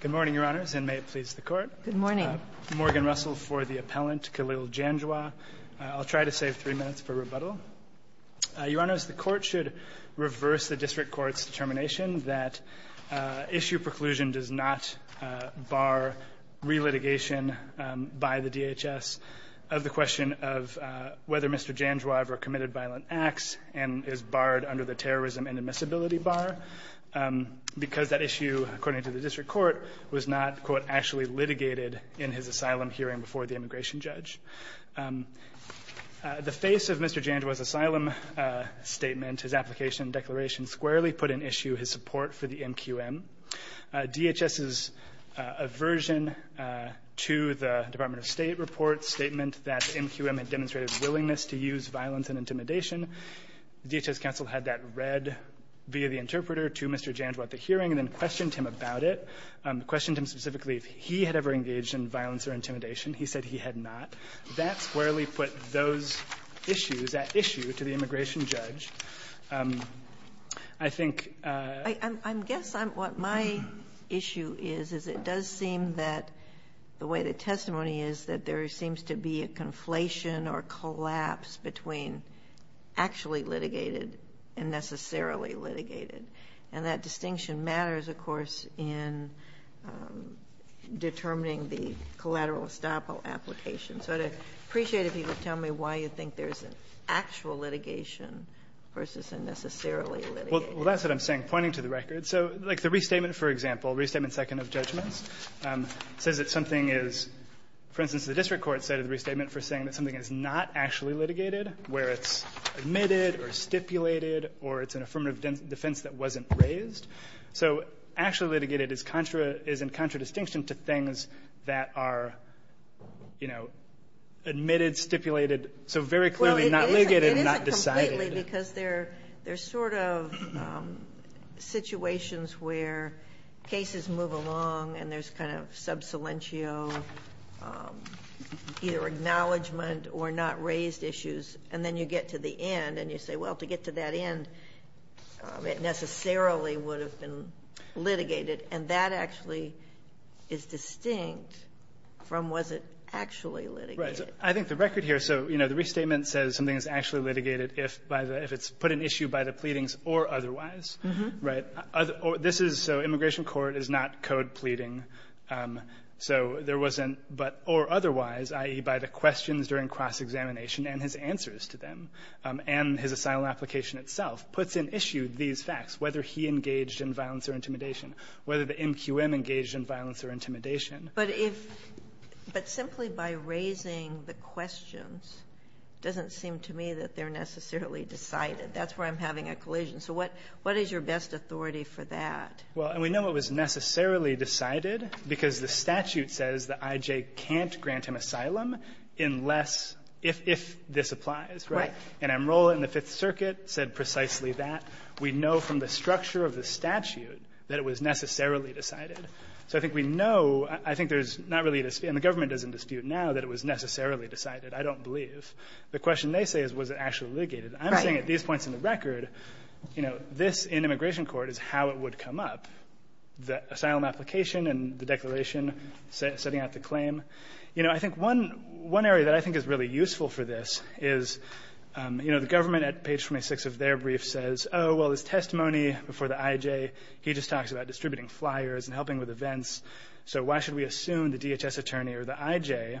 Good morning, Your Honors, and may it please the Court. Good morning. Morgan Russell for the appellant, Khalil Janjua. I'll try to save three minutes for rebuttal. Your Honors, the Court should reverse the District Court's determination that issue preclusion does not bar relitigation by the DHS of the question of whether Mr. Janjua ever committed violent acts and is barred under the terrorism and admissibility bar because that issue, according to the District Court, was not, quote, actually litigated in his asylum hearing before the immigration judge. The face of Mr. Janjua's asylum statement, his application and declaration, squarely put in issue his support for the MQM. DHS's aversion to the Department of State report statement that the MQM had demonstrated willingness to use violence and intimidation. DHS counsel had that read via the interpreter to Mr. Janjua at the hearing and then questioned him about it, questioned him specifically if he had ever engaged in violence or intimidation. He said he had not. That squarely put those issues at issue to the immigration judge. I think ---- Ginsburg-Moran, I guess what my issue is, is it does seem that the way the testimony is that there seems to be a conflation or collapse between actually litigated and necessarily litigated. And that distinction matters, of course, in determining the collateral estoppel application. So I'd appreciate it if you could tell me why you think there's an actual litigation versus a necessarily litigated. Well, that's what I'm saying, pointing to the record. So like the restatement, for example, Restatement Second of Judgments, says that something is, for instance, the district court cited the restatement for saying that something is not actually litigated, where it's admitted or stipulated or it's an affirmative defense that wasn't raised. So actually litigated is in contradistinction to things that are, you know, admitted, stipulated, so very clearly not litigated and not decided. Well, it isn't completely because there's sort of situations where cases move along and there's kind of sub silentio, either acknowledgment or not raised issues, and then you get to the end and you say, well, to get to that end, it necessarily would have been litigated. And that actually is distinct from was it actually litigated. Right. I think the record here, so, you know, the restatement says something is actually litigated if by the – if it's put in issue by the pleadings or otherwise, right? This is so immigration court is not code pleading. So there wasn't but or otherwise, i.e., by the questions during cross-examination and his answers to them and his asylum application itself puts in issue these facts, whether he engaged in violence or intimidation, whether the MQM engaged in violence or intimidation. But if – but simply by raising the questions doesn't seem to me that they're necessarily decided. That's where I'm having a collision. So what is your best authority for that? Well, and we know it was necessarily decided because the statute says that I.J. can't grant him asylum unless – if this applies, right? Right. And Amarillo in the Fifth Circuit said precisely that. We know from the structure of the statute that it was necessarily decided. So I think we know – I think there's not really a – and the government doesn't dispute now that it was necessarily decided. I don't believe. The question they say is was it actually litigated. Right. But I'm saying at these points in the record, you know, this in immigration court is how it would come up, the asylum application and the declaration setting out the claim. You know, I think one area that I think is really useful for this is, you know, the government at page 26 of their brief says, oh, well, this testimony before the I.J., he just talks about distributing flyers and helping with events. So why should we assume the DHS attorney or the I.J.,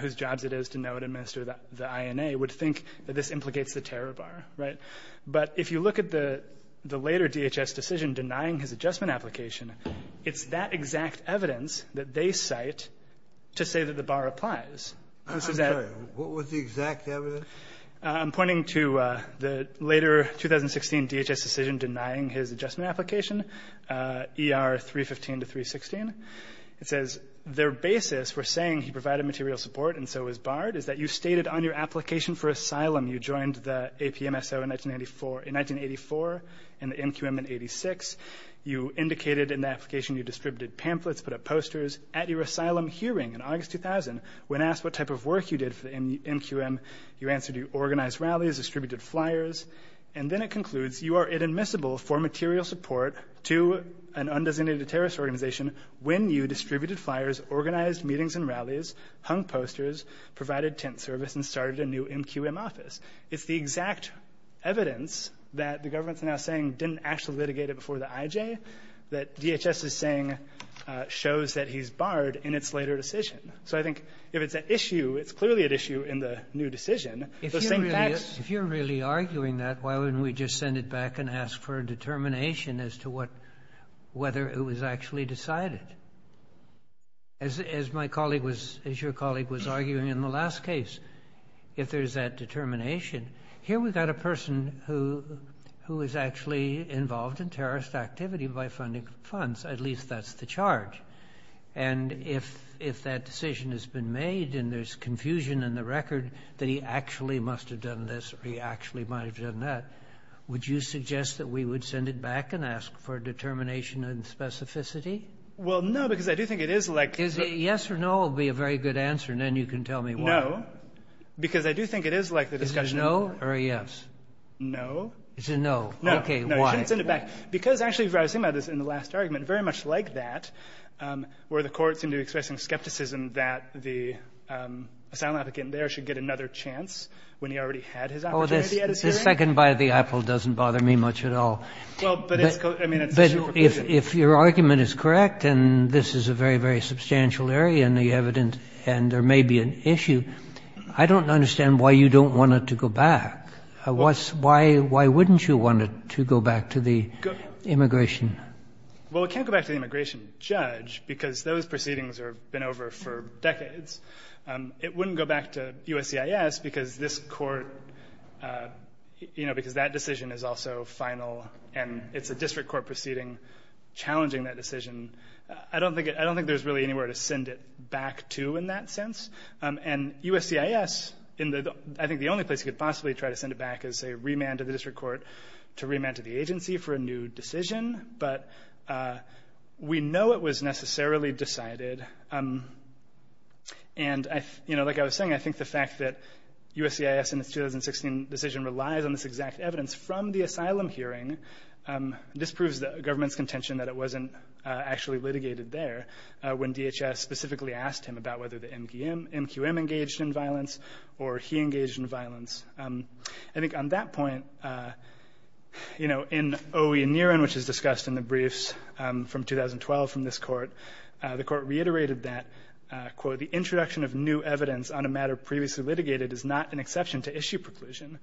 whose jobs it is to know and administer the I.N.A., would think that this implicates the terror bar. Right. But if you look at the later DHS decision denying his adjustment application, it's that exact evidence that they cite to say that the bar applies. This is that – I'm sorry. What was the exact evidence? I'm pointing to the later 2016 DHS decision denying his adjustment application, ER 315 to 316. It says their basis for saying he provided material support and so was barred is that you stated on your application for asylum, you joined the APMSO in 1984 and the MQM in 86. You indicated in the application you distributed pamphlets, put up posters. At your asylum hearing in August 2000, when asked what type of work you did for the MQM, you answered you organized rallies, distributed flyers. And then it concludes you are inadmissible for material support to an undesignated terrorist organization when you distributed flyers, organized meetings and rallies, hung posters, provided tent service, and started a new MQM office. It's the exact evidence that the government is now saying didn't actually litigate it before the IJ that DHS is saying shows that he's barred in its later decision. So I think if it's an issue, it's clearly an issue in the new decision. If you're really arguing that, why wouldn't we just send it back and ask for a determination as to what – whether it was actually decided? As my colleague was – as your colleague was arguing in the last case, if there's that determination, here we've got a person who is actually involved in terrorist activity by funding funds. At least that's the charge. And if that decision has been made and there's confusion in the record that he actually must have done this or he actually might have done that, would you suggest that we would send it back and ask for a determination and specificity? Well, no, because I do think it is like – Is it yes or no will be a very good answer, and then you can tell me why. No, because I do think it is like the discussion – Is it no or a yes? No. It's a no. No. Okay, why? No, you shouldn't send it back, because actually what I was saying about this in the last argument, very much like that, where the Court seemed to be expressing skepticism that the asylum applicant there should get another chance when he already had his opportunity at his hearing. Oh, this second by the apple doesn't bother me much at all. Well, but it's – I mean, it's a superposition. If your argument is correct, and this is a very, very substantial area in the evidence and there may be an issue, I don't understand why you don't want it to go back. Why wouldn't you want it to go back to the immigration? Well, it can't go back to the immigration judge, because those proceedings have been over for decades. It wouldn't go back to USCIS because this Court – you know, because that decision is also final and it's a district court proceeding challenging that decision. I don't think there's really anywhere to send it back to in that sense. And USCIS, I think the only place you could possibly try to send it back is a remand to the district court to remand to the agency for a new decision. But we know it was necessarily decided. And, you know, like I was saying, I think the fact that USCIS in its 2016 decision relies on this exact evidence from the asylum hearing, this proves the government's contention that it wasn't actually litigated there when DHS specifically asked him about whether the MQM engaged in violence or he engaged in violence. I think on that point, you know, in OE and Niren, which is discussed in the briefs from 2012 from this Court, the Court reiterated that, quote, the introduction of new evidence on a matter previously litigated is not an exception to issue preclusion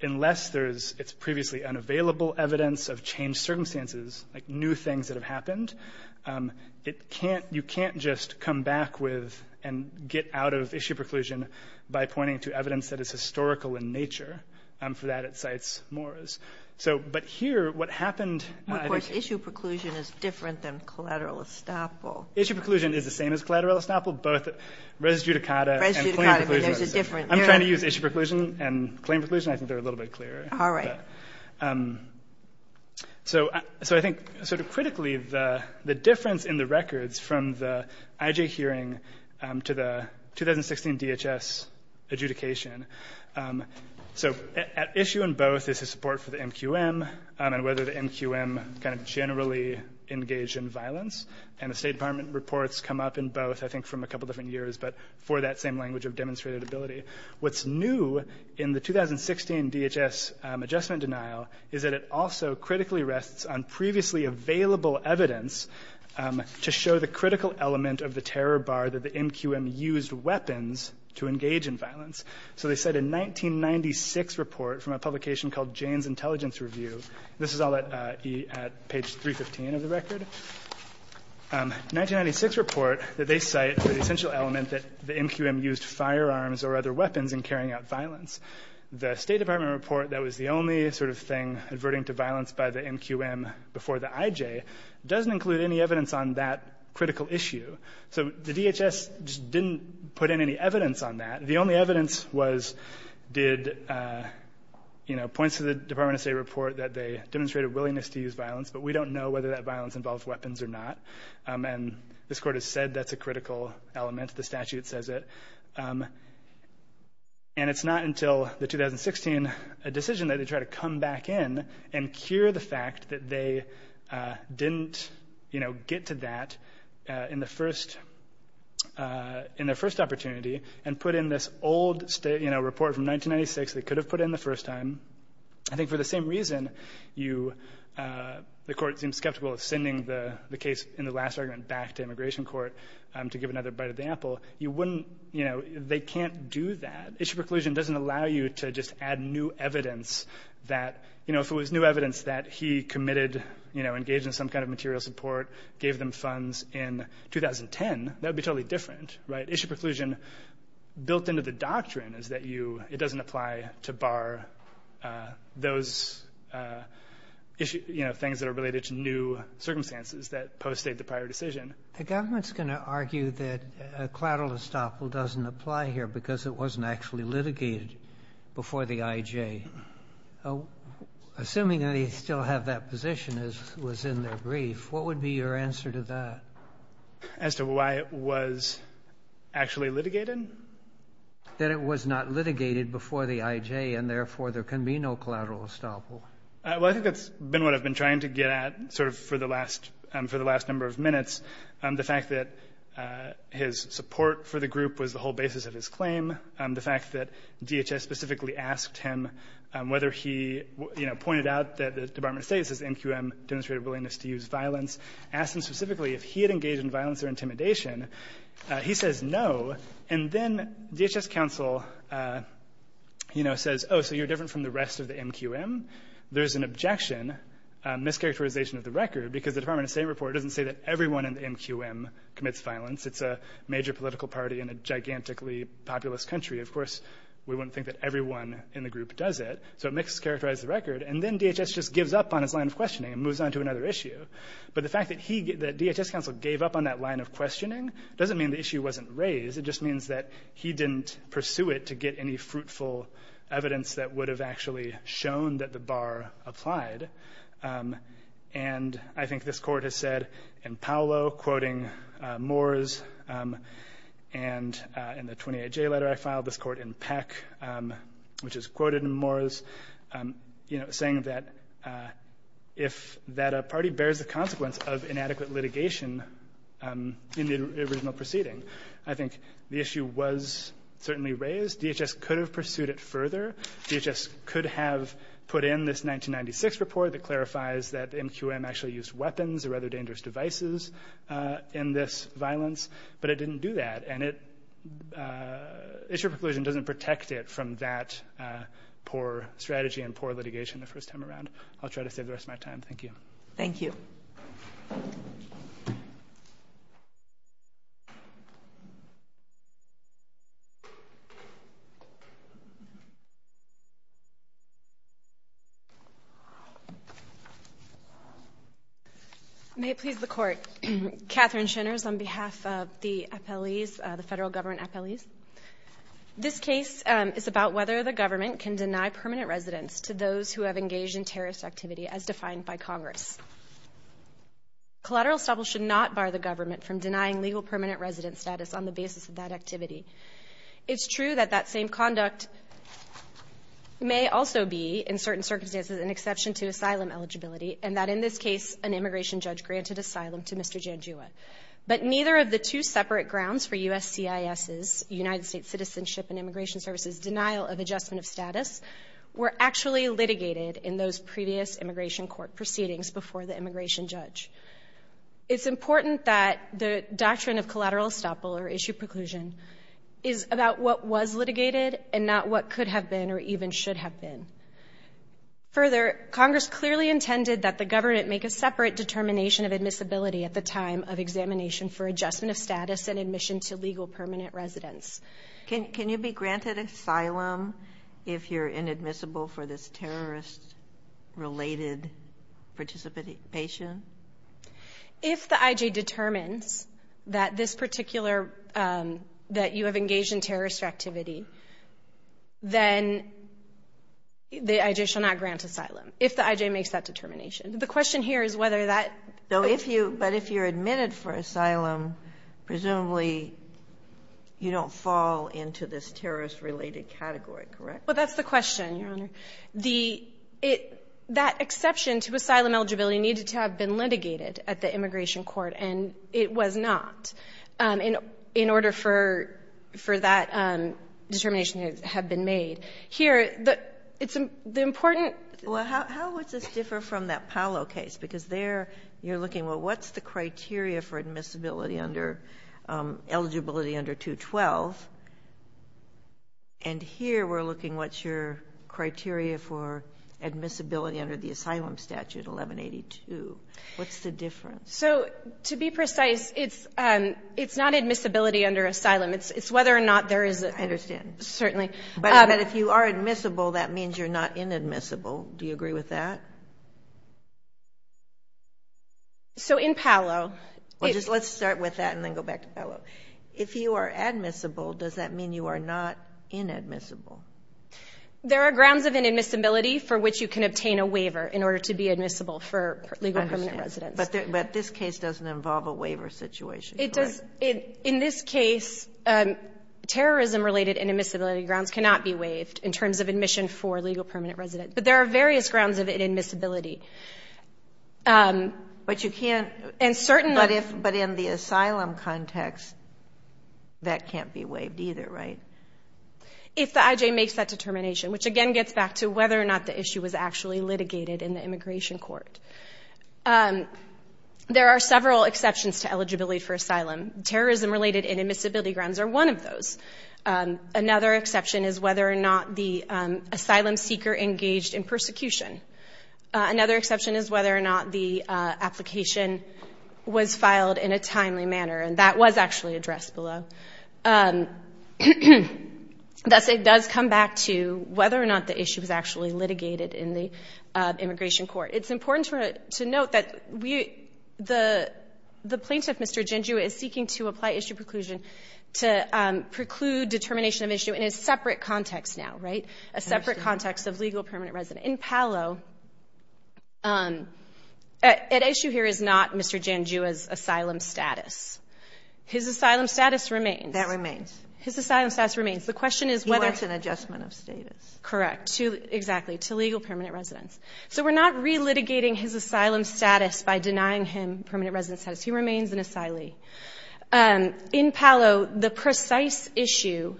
unless there is previously unavailable evidence of changed circumstances, like new things that have happened. You can't just come back with and get out of issue preclusion by pointing to evidence that is historical in nature. For that, it cites Morris. But here, what happened – Of course, issue preclusion is different than collateral estoppel. Issue preclusion is the same as collateral estoppel, both res judicata and claim preclusion. I'm trying to use issue preclusion and claim preclusion. I think they're a little bit clearer. All right. So I think sort of critically, the difference in the records from the IJ hearing to the 2016 DHS adjudication, so at issue in both is the support for the MQM and whether the MQM kind of generally engaged in violence, and the State Department reports come up in both, I think from a couple different years, but for that same language of demonstrated ability. What's new in the 2016 DHS adjustment denial is that it also critically rests on previously available evidence to show the critical element of the terror bar that the MQM used weapons to engage in violence. So they cite a 1996 report from a publication called Jane's Intelligence Review. This is all at page 315 of the record. A 1996 report that they cite for the essential element that the MQM used firearms or other weapons in carrying out violence. The State Department report that was the only sort of thing averting to violence by the MQM before the IJ doesn't include any evidence on that critical issue. So the DHS just didn't put in any evidence on that. The only evidence was did, you know, it points to the Department of State report that they demonstrated willingness to use violence, but we don't know whether that violence involved weapons or not. And this Court has said that's a critical element. The statute says it. And it's not until the 2016 decision that they try to come back in and cure the fact that they didn't, you know, get to that in their first opportunity and put in this old report from 1996 they could have put in the first time. I think for the same reason you, the Court seems skeptical of sending the case in the last argument back to Immigration Court to give another bite of the apple. You wouldn't, you know, they can't do that. Issue preclusion doesn't allow you to just add new evidence that, you know, if it was new evidence that he committed, you know, engaged in some kind of material support, gave them funds in 2010, that would be totally different, right? Issue preclusion built into the doctrine is that you, it doesn't apply to bar those, you know, things that are related to new circumstances that post-state the prior decision. The government's going to argue that a collateral estoppel doesn't apply here because it wasn't actually litigated before the IJ. Assuming they still have that position as was in their brief, what would be your answer to that? As to why it was actually litigated? That it was not litigated before the IJ and therefore there can be no collateral estoppel. Well, I think that's been what I've been trying to get at sort of for the last number of minutes. The fact that his support for the group was the whole basis of his claim, the fact that DHS specifically asked him whether he, you know, pointed out that the Department of State says NQM demonstrated willingness to use violence, asked him specifically if he had engaged in violence or intimidation. He says no. And then DHS counsel, you know, says, oh, so you're different from the rest of the NQM? There's an objection, a mischaracterization of the record, because the Department of State report doesn't say that everyone in the NQM commits violence. It's a major political party in a gigantically populous country. Of course, we wouldn't think that everyone in the group does it. So it mischaracterizes the record. And then DHS just gives up on his line of questioning and moves on to another issue. But the fact that DHS counsel gave up on that line of questioning doesn't mean the issue wasn't raised. It just means that he didn't pursue it to get any fruitful evidence that would have actually shown that the bar applied. And I think this court has said in Paolo, quoting Moores, and in the 28J letter I filed, this court in Peck, which is quoted in Moores, you know, that a party bears the consequence of inadequate litigation in the original proceeding. I think the issue was certainly raised. DHS could have pursued it further. DHS could have put in this 1996 report that clarifies that the NQM actually used weapons, rather dangerous devices, in this violence. But it didn't do that. And issue of preclusion doesn't protect it from that poor strategy and poor litigation the first time around. I'll try to save the rest of my time. Thank you. Thank you. May it please the Court. Catherine Shinners on behalf of the appellees, the federal government appellees. This case is about whether the government can deny permanent residence to those who have engaged in terrorist activity, as defined by Congress. Collateral establishment should not bar the government from denying legal permanent residence status on the basis of that activity. It's true that that same conduct may also be, in certain circumstances, an exception to asylum eligibility, and that in this case an immigration judge granted asylum to Mr. Janjua. But neither of the two separate grounds for USCIS's, United States Citizenship and Immigration Services, denial of adjustment of status, were actually litigated in those previous immigration court proceedings before the immigration judge. It's important that the doctrine of collateral estoppel, or issue of preclusion, is about what was litigated and not what could have been or even should have been. Further, Congress clearly intended that the government make a separate determination of admissibility at the time of examination for adjustment of status and admission to legal permanent residence. Can you be granted asylum if you're inadmissible for this terrorist-related participation? If the IJ determines that this particular, that you have engaged in terrorist activity, then the IJ shall not grant asylum, if the IJ makes that determination. The question here is whether that... But if you're admitted for asylum, presumably you don't fall into this terrorist-related category, correct? Well, that's the question, Your Honor. That exception to asylum eligibility needed to have been litigated at the immigration court, and it was not. In order for that determination to have been made. Here, the important... Well, how would this differ from that Paolo case? Because there you're looking, well, what's the criteria for admissibility under... eligibility under 212? And here we're looking, what's your criteria for admissibility under the asylum statute, 1182? What's the difference? So, to be precise, it's not admissibility under asylum. It's whether or not there is... I understand. Certainly. But if you are admissible, that means you're not inadmissible. Do you agree with that? So, in Paolo... Let's start with that and then go back to Paolo. If you are admissible, does that mean you are not inadmissible? There are grounds of inadmissibility for which you can obtain a waiver in order to be admissible for legal permanent residence. But this case doesn't involve a waiver situation, correct? In this case, terrorism-related inadmissibility grounds cannot be waived in terms of admission for legal permanent residence. But there are various grounds of inadmissibility. But you can't... But in the asylum context, that can't be waived either, right? If the IJ makes that determination, which again gets back to whether or not the issue was actually litigated in the immigration court. There are several exceptions to eligibility for asylum. Terrorism-related inadmissibility grounds are one of those. Another exception is whether or not the asylum seeker engaged in persecution. Another exception is whether or not the application was filed in a timely manner. And that was actually addressed below. Thus, it does come back to whether or not the issue was actually litigated in the immigration court. It's important to note that the plaintiff, Mr. Jinju, is seeking to apply issue preclusion to preclude determination of issue in a separate context now, right? A separate context of legal permanent residence. In Palo, an issue here is not Mr. Jinju's asylum status. His asylum status remains. That remains. His asylum status remains. The question is whether... Well, that's an adjustment of status. Correct. Exactly. To legal permanent residence. So we're not relitigating his asylum status by denying him permanent residence status. He remains an asylee. In Palo, the precise issue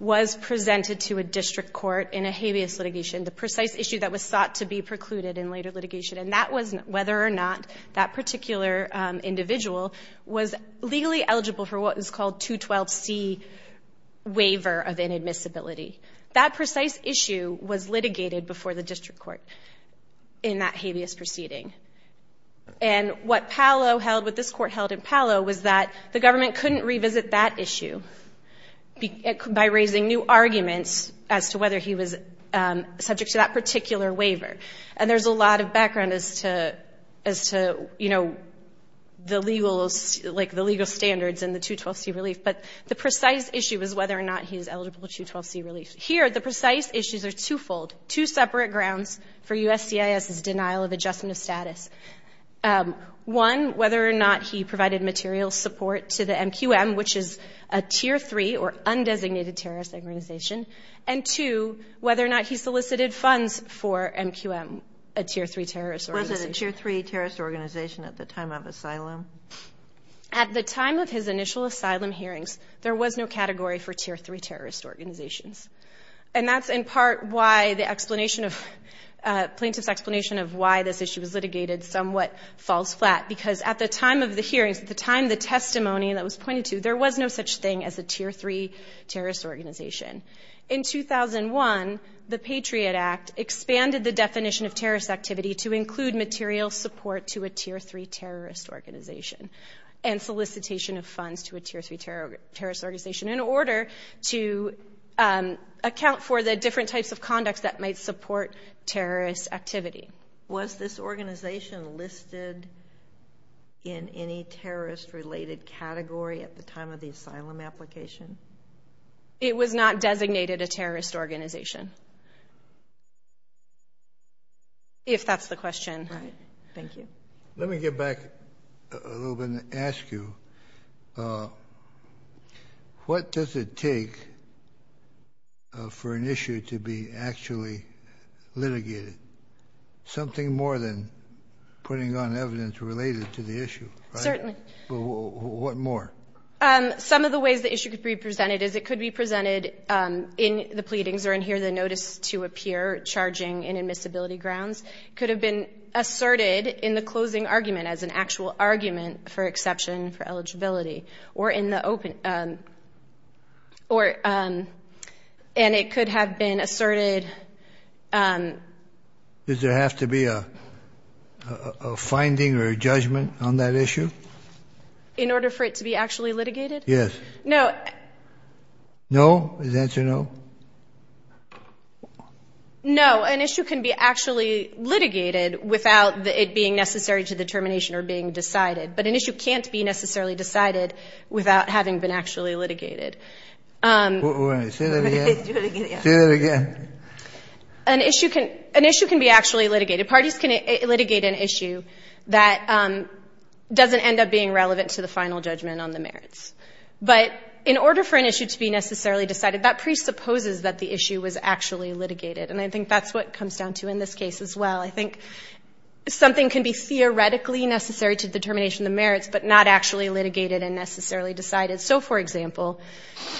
was presented to a district court in a habeas litigation, the precise issue that was sought to be precluded in later litigation. And that was whether or not that particular individual was legally eligible for what was called 212C waiver of inadmissibility. That precise issue was litigated before the district court in that habeas proceeding. And what Palo held, what this court held in Palo, was that the government couldn't revisit that issue by raising new arguments as to whether he was subject to that particular waiver. And there's a lot of background as to, you know, the legal standards and the 212C relief. But the precise issue was whether or not he was eligible for 212C relief. Here, the precise issues are twofold, two separate grounds for USCIS's denial of adjustment of status. One, whether or not he provided material support to the MQM, which is a Tier 3 or undesignated terrorist organization. And, two, whether or not he solicited funds for MQM, a Tier 3 terrorist organization. Was it a Tier 3 terrorist organization at the time of asylum? At the time of his initial asylum hearings, there was no category for Tier 3 terrorist organizations. And that's in part why the explanation of, plaintiff's explanation of why this issue was litigated somewhat falls flat. Because at the time of the hearings, at the time of the testimony that was pointed to, there was no such thing as a Tier 3 terrorist organization. In 2001, the Patriot Act expanded the definition of terrorist activity to include material support to a Tier 3 terrorist organization and solicitation of funds to a Tier 3 terrorist organization in order to account for the different types of conducts that might support terrorist activity. Was this organization listed in any terrorist-related category at the time of the asylum application? It was not designated a terrorist organization. If that's the question. Right. Thank you. Let me get back a little bit and ask you, what does it take for an issue to be actually litigated? Something more than putting on evidence related to the issue, right? Certainly. What more? Some of the ways the issue could be presented is it could be presented in the pleadings or in here the notice to appear charging inadmissibility grounds. It could have been asserted in the closing argument as an actual argument for exception for eligibility and it could have been asserted. Does there have to be a finding or a judgment on that issue? In order for it to be actually litigated? Yes. No. No? Is the answer no? No. An issue can be actually litigated without it being necessary to the termination or being decided. But an issue can't be necessarily decided without having been actually litigated. Say that again. Say that again. An issue can be actually litigated. Parties can litigate an issue that doesn't end up being relevant to the final judgment on the merits. But in order for an issue to be necessarily decided, that presupposes that the issue was actually litigated. And I think that's what it comes down to in this case as well. I think something can be theoretically necessary to the termination of the merits but not actually litigated and necessarily decided. So, for example,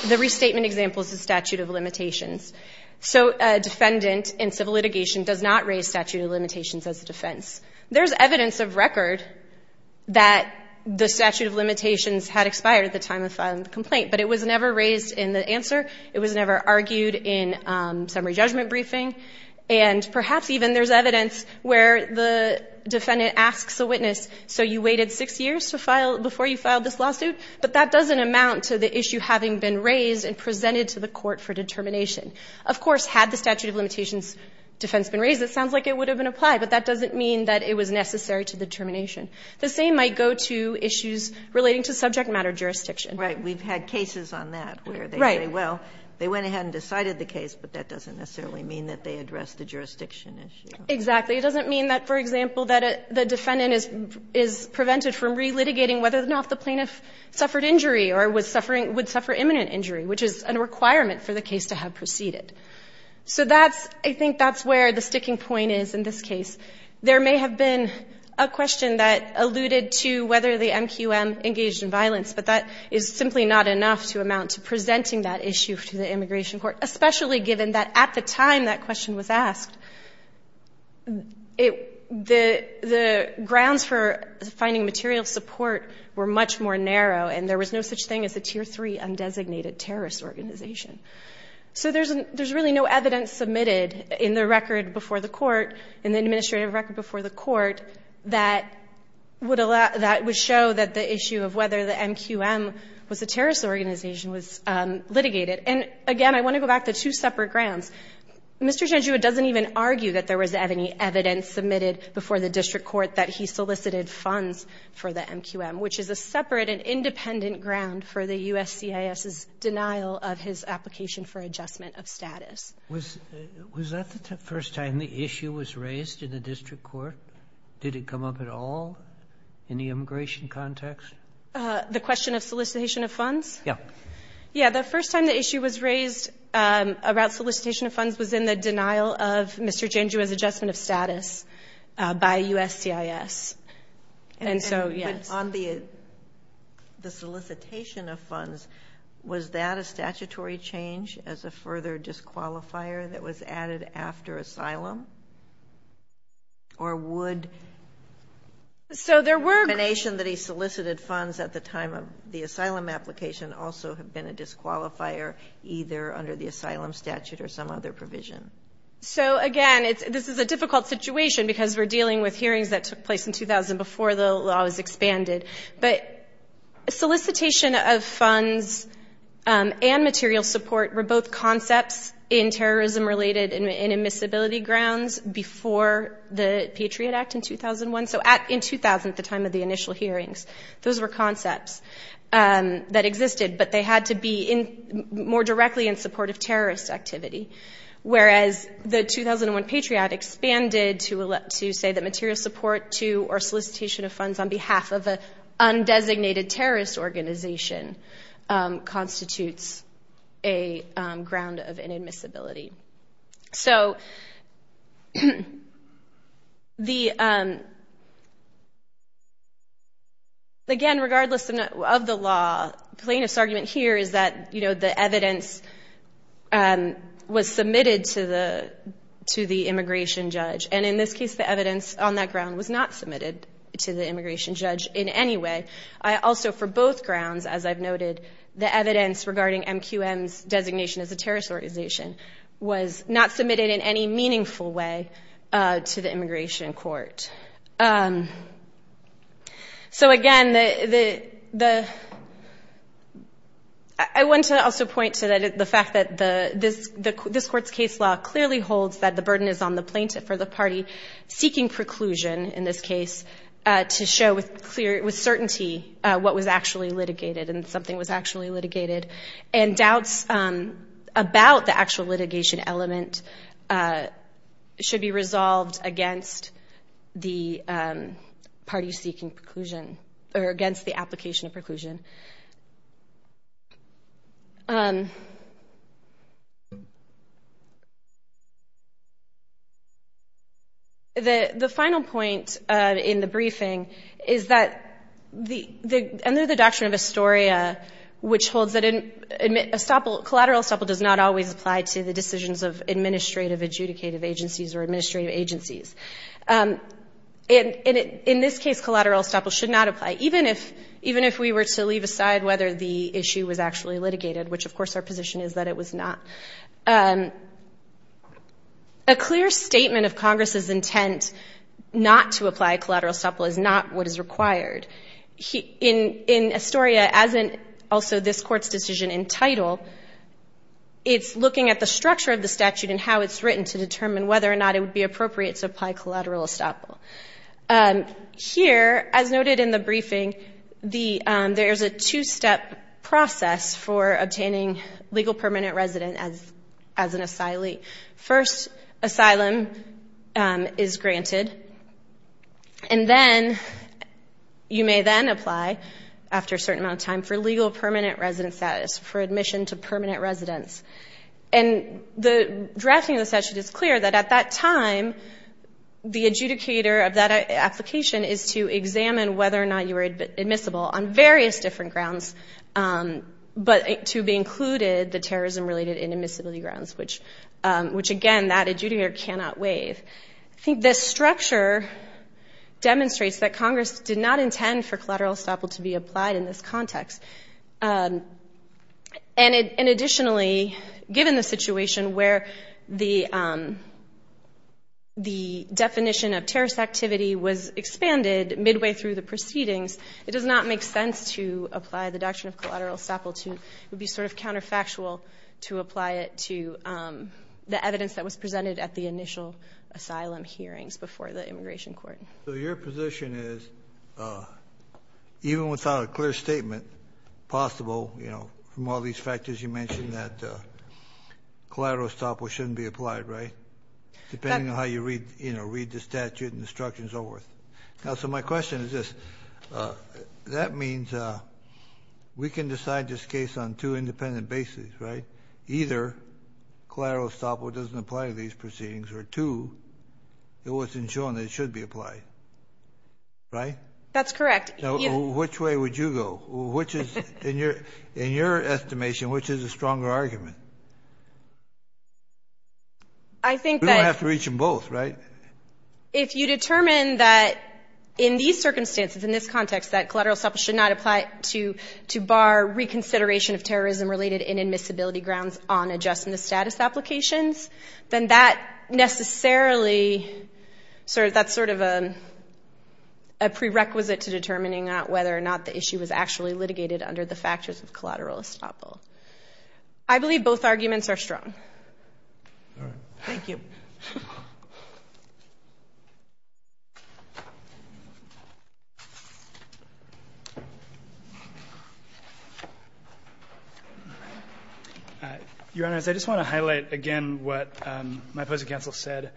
the restatement example is the statute of limitations. So a defendant in civil litigation does not raise statute of limitations as a defense. There's evidence of record that the statute of limitations had expired at the time of filing the complaint. But it was never raised in the answer. It was never argued in summary judgment briefing. And perhaps even there's evidence where the defendant asks the witness, so you waited six years before you filed this lawsuit? But that doesn't amount to the issue having been raised and presented to the court for determination. Of course, had the statute of limitations defense been raised, it sounds like it would have been applied. But that doesn't mean that it was necessary to the termination. The same might go to issues relating to subject matter jurisdiction. Right. We've had cases on that where they say, well, they went ahead and decided the case, but that doesn't necessarily mean that they addressed the jurisdiction issue. Exactly. It doesn't mean that, for example, that the defendant is prevented from relitigating whether or not the plaintiff suffered injury or was suffering or would suffer imminent injury, which is a requirement for the case to have proceeded. So I think that's where the sticking point is in this case. There may have been a question that alluded to whether the MQM engaged in violence, but that is simply not enough to amount to presenting that issue to the immigration court, especially given that at the time that question was asked, the grounds for finding material support were much more narrow, and there was no such thing as a Tier 3 undesignated terrorist organization. So there's really no evidence submitted in the record before the court, in the administrative record before the court, that would show that the issue of whether the MQM was a terrorist organization was litigated. And, again, I want to go back to two separate grounds. Mr. Genjua doesn't even argue that there was any evidence submitted before the district court that he solicited funds for the MQM, which is a separate and independent ground for the USCIS's denial of his application for adjustment of status. Was that the first time the issue was raised in the district court? Did it come up at all in the immigration context? The question of solicitation of funds? Yeah. Yeah. The first time the issue was raised about solicitation of funds was in the denial of Mr. Genjua's adjustment of status by USCIS. And so, yes. On the solicitation of funds, was that a statutory change as a further disqualifier that was added after asylum? Or would the determination that he solicited funds at the time of the asylum application also have been a disqualifier either under the asylum statute or some other provision? So, again, this is a difficult situation because we're dealing with hearings that took place in 2000 before the law was expanded. But solicitation of funds and material support were both concepts in terrorism-related and admissibility grounds before the Patriot Act in 2001. So in 2000, at the time of the initial hearings, those were concepts that existed, but they had to be more directly in support of terrorist activity. Whereas the 2001 Patriot expanded to say that material support to or solicitation of funds on behalf of an undesignated terrorist organization constitutes a ground of inadmissibility. So, again, regardless of the law, the plaintiff's argument here is that the evidence was submitted to the immigration judge. And in this case, the evidence on that ground was not submitted to the immigration judge in any way. Also, for both grounds, as I've noted, the evidence regarding MQM's designation as a terrorist organization was not submitted in any meaningful way to the immigration court. So, again, I want to also point to the fact that this court's case law clearly holds that the burden is on the plaintiff or the party seeking preclusion, in this case, to show with certainty what was actually litigated and something was actually litigated. And doubts about the actual litigation element should be resolved against the party seeking preclusion or against the application of preclusion. The final point in the briefing is that under the doctrine of Astoria, which holds that collateral estoppel does not always apply to the decisions of administrative, adjudicative agencies or administrative agencies. In this case, collateral estoppel should not apply, even if we were to leave aside whether the issue was actually litigated, which, of course, our position is that it was not. A clear statement of Congress's intent not to apply collateral estoppel is not what is required. In Astoria, as in also this court's decision in title, it's looking at the structure of the statute and how it's written to determine whether or not it would be appropriate to apply collateral estoppel. Here, as noted in the briefing, there is a two-step process for obtaining legal permanent resident as an asylee. First, asylum is granted. And then you may then apply, after a certain amount of time, for legal permanent resident status, for admission to permanent residence. And the drafting of the statute is clear that at that time, the adjudicator of that application is to examine whether or not you were admissible on various different grounds, but to be included the terrorism-related inadmissibility grounds, which, again, that adjudicator cannot waive. I think this structure demonstrates that Congress did not intend for collateral estoppel to be applied in this context. And additionally, given the situation where the definition of terrorist activity was expanded midway through the proceedings, it does not make sense to apply the doctrine of collateral estoppel to be sort of counterfactual to apply it to the evidence that was presented at the initial asylum hearings before the immigration court. So your position is, even without a clear statement, possible, you know, from all these factors you mentioned that collateral estoppel shouldn't be applied, right, depending on how you read, you know, read the statute and the instructions over it. Now, so my question is this. That means we can decide this case on two independent bases, right? Either collateral estoppel doesn't apply to these proceedings, or two, it wasn't shown that it should be applied, right? That's correct. Which way would you go? Which is, in your estimation, which is the stronger argument? I think that you have to reach them both, right? If you determine that in these circumstances, in this context, that collateral estoppel should not apply to bar reconsideration of terrorism-related inadmissibility grounds on adjusting the status applications, then that necessarily, that's sort of a prerequisite to determining whether or not the issue was actually litigated under the factors of collateral estoppel. I believe both arguments are strong. All right. Thank you. Your Honors, I just want to highlight again what my opposing counsel said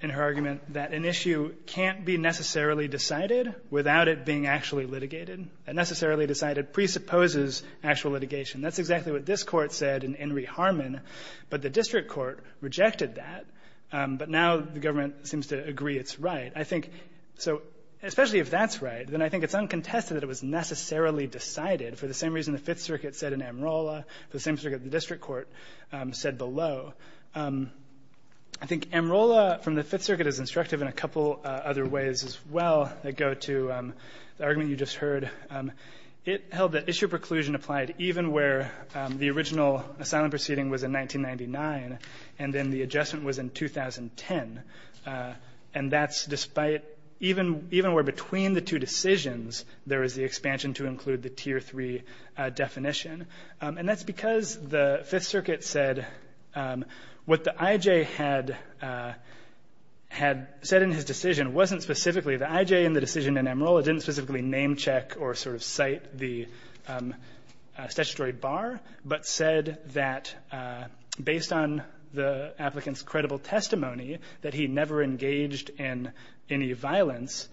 in her argument that an issue can't be necessarily decided without it being actually litigated. A necessarily decided presupposes actual litigation. That's exactly what this Court said in Henry Harmon, but the district court rejected that, but now the government seems to agree it's right. I think so, especially if that's right, then I think it's uncontested that it was necessarily decided for the same reason the Fifth Circuit said in Amarola, the same circuit the district court said below. I think Amarola from the Fifth Circuit is instructive in a couple other ways as well that go to the argument you just heard. It held that issue preclusion applied even where the original asylum proceeding was in 1999 and then the adjustment was in 2010. And that's despite even where between the two decisions there is the expansion to include the Tier 3 definition. And that's because the Fifth Circuit said what the IJ had said in his decision wasn't specifically the IJ in the decision in Amarola didn't specifically name check or sort of cite the statutory bar, but said that based on the applicant's credible testimony that he never engaged in any violence,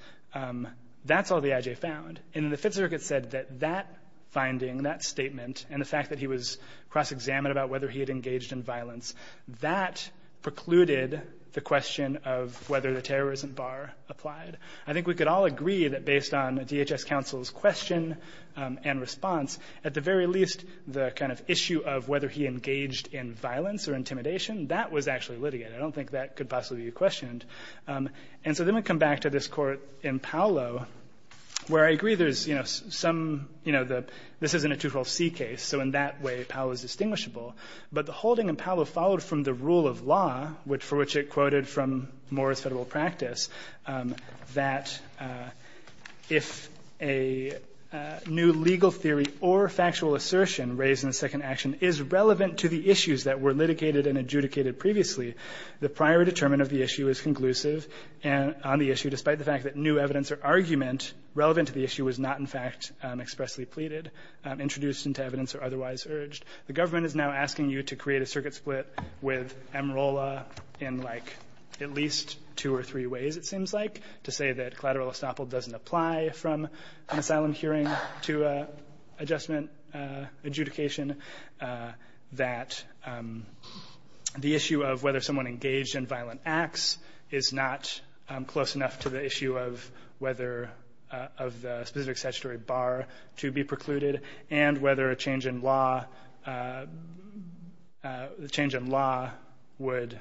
that's all the IJ found. And the Fifth Circuit said that that finding, that statement, and the fact that he was cross-examined about whether he had engaged in violence, that precluded the question of whether the terrorism bar applied. I think we could all agree that based on DHS counsel's question and response, at the very least the kind of issue of whether he engaged in violence or intimidation, that was actually litigated. I don't think that could possibly be questioned. And so let me come back to this Court in Paolo, where I agree there's some, you know, this isn't a 212C case, so in that way Paolo is distinguishable. But the holding in Paolo followed from the rule of law, for which it quoted from Moore's Federal Practice, that if a new legal theory or factual assertion raised in the second action is relevant to the issues that were litigated and adjudicated previously, the prior determinant of the issue is conclusive on the issue, despite the fact that new evidence or argument relevant to the issue was not in fact expressly pleaded, introduced into evidence, or otherwise urged. The government is now asking you to create a circuit split with Amarola in like at least two or three ways, it seems like, to say that collateral estoppel doesn't apply from an asylum hearing to adjustment adjudication, that the issue of whether someone engaged in violent acts is not close enough to the issue of whether of the specific statutory bar to be precluded, and whether a change in law the change in law would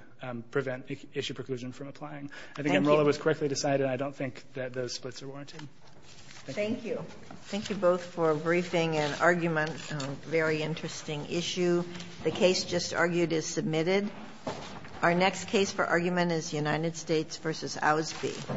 prevent issue preclusion from applying. I think Amarola was correctly decided. I don't think that those splits are warranted. Thank you. Thank you both for briefing and argument on a very interesting issue. The case just argued is submitted. Our next case for argument is United States v. Osby.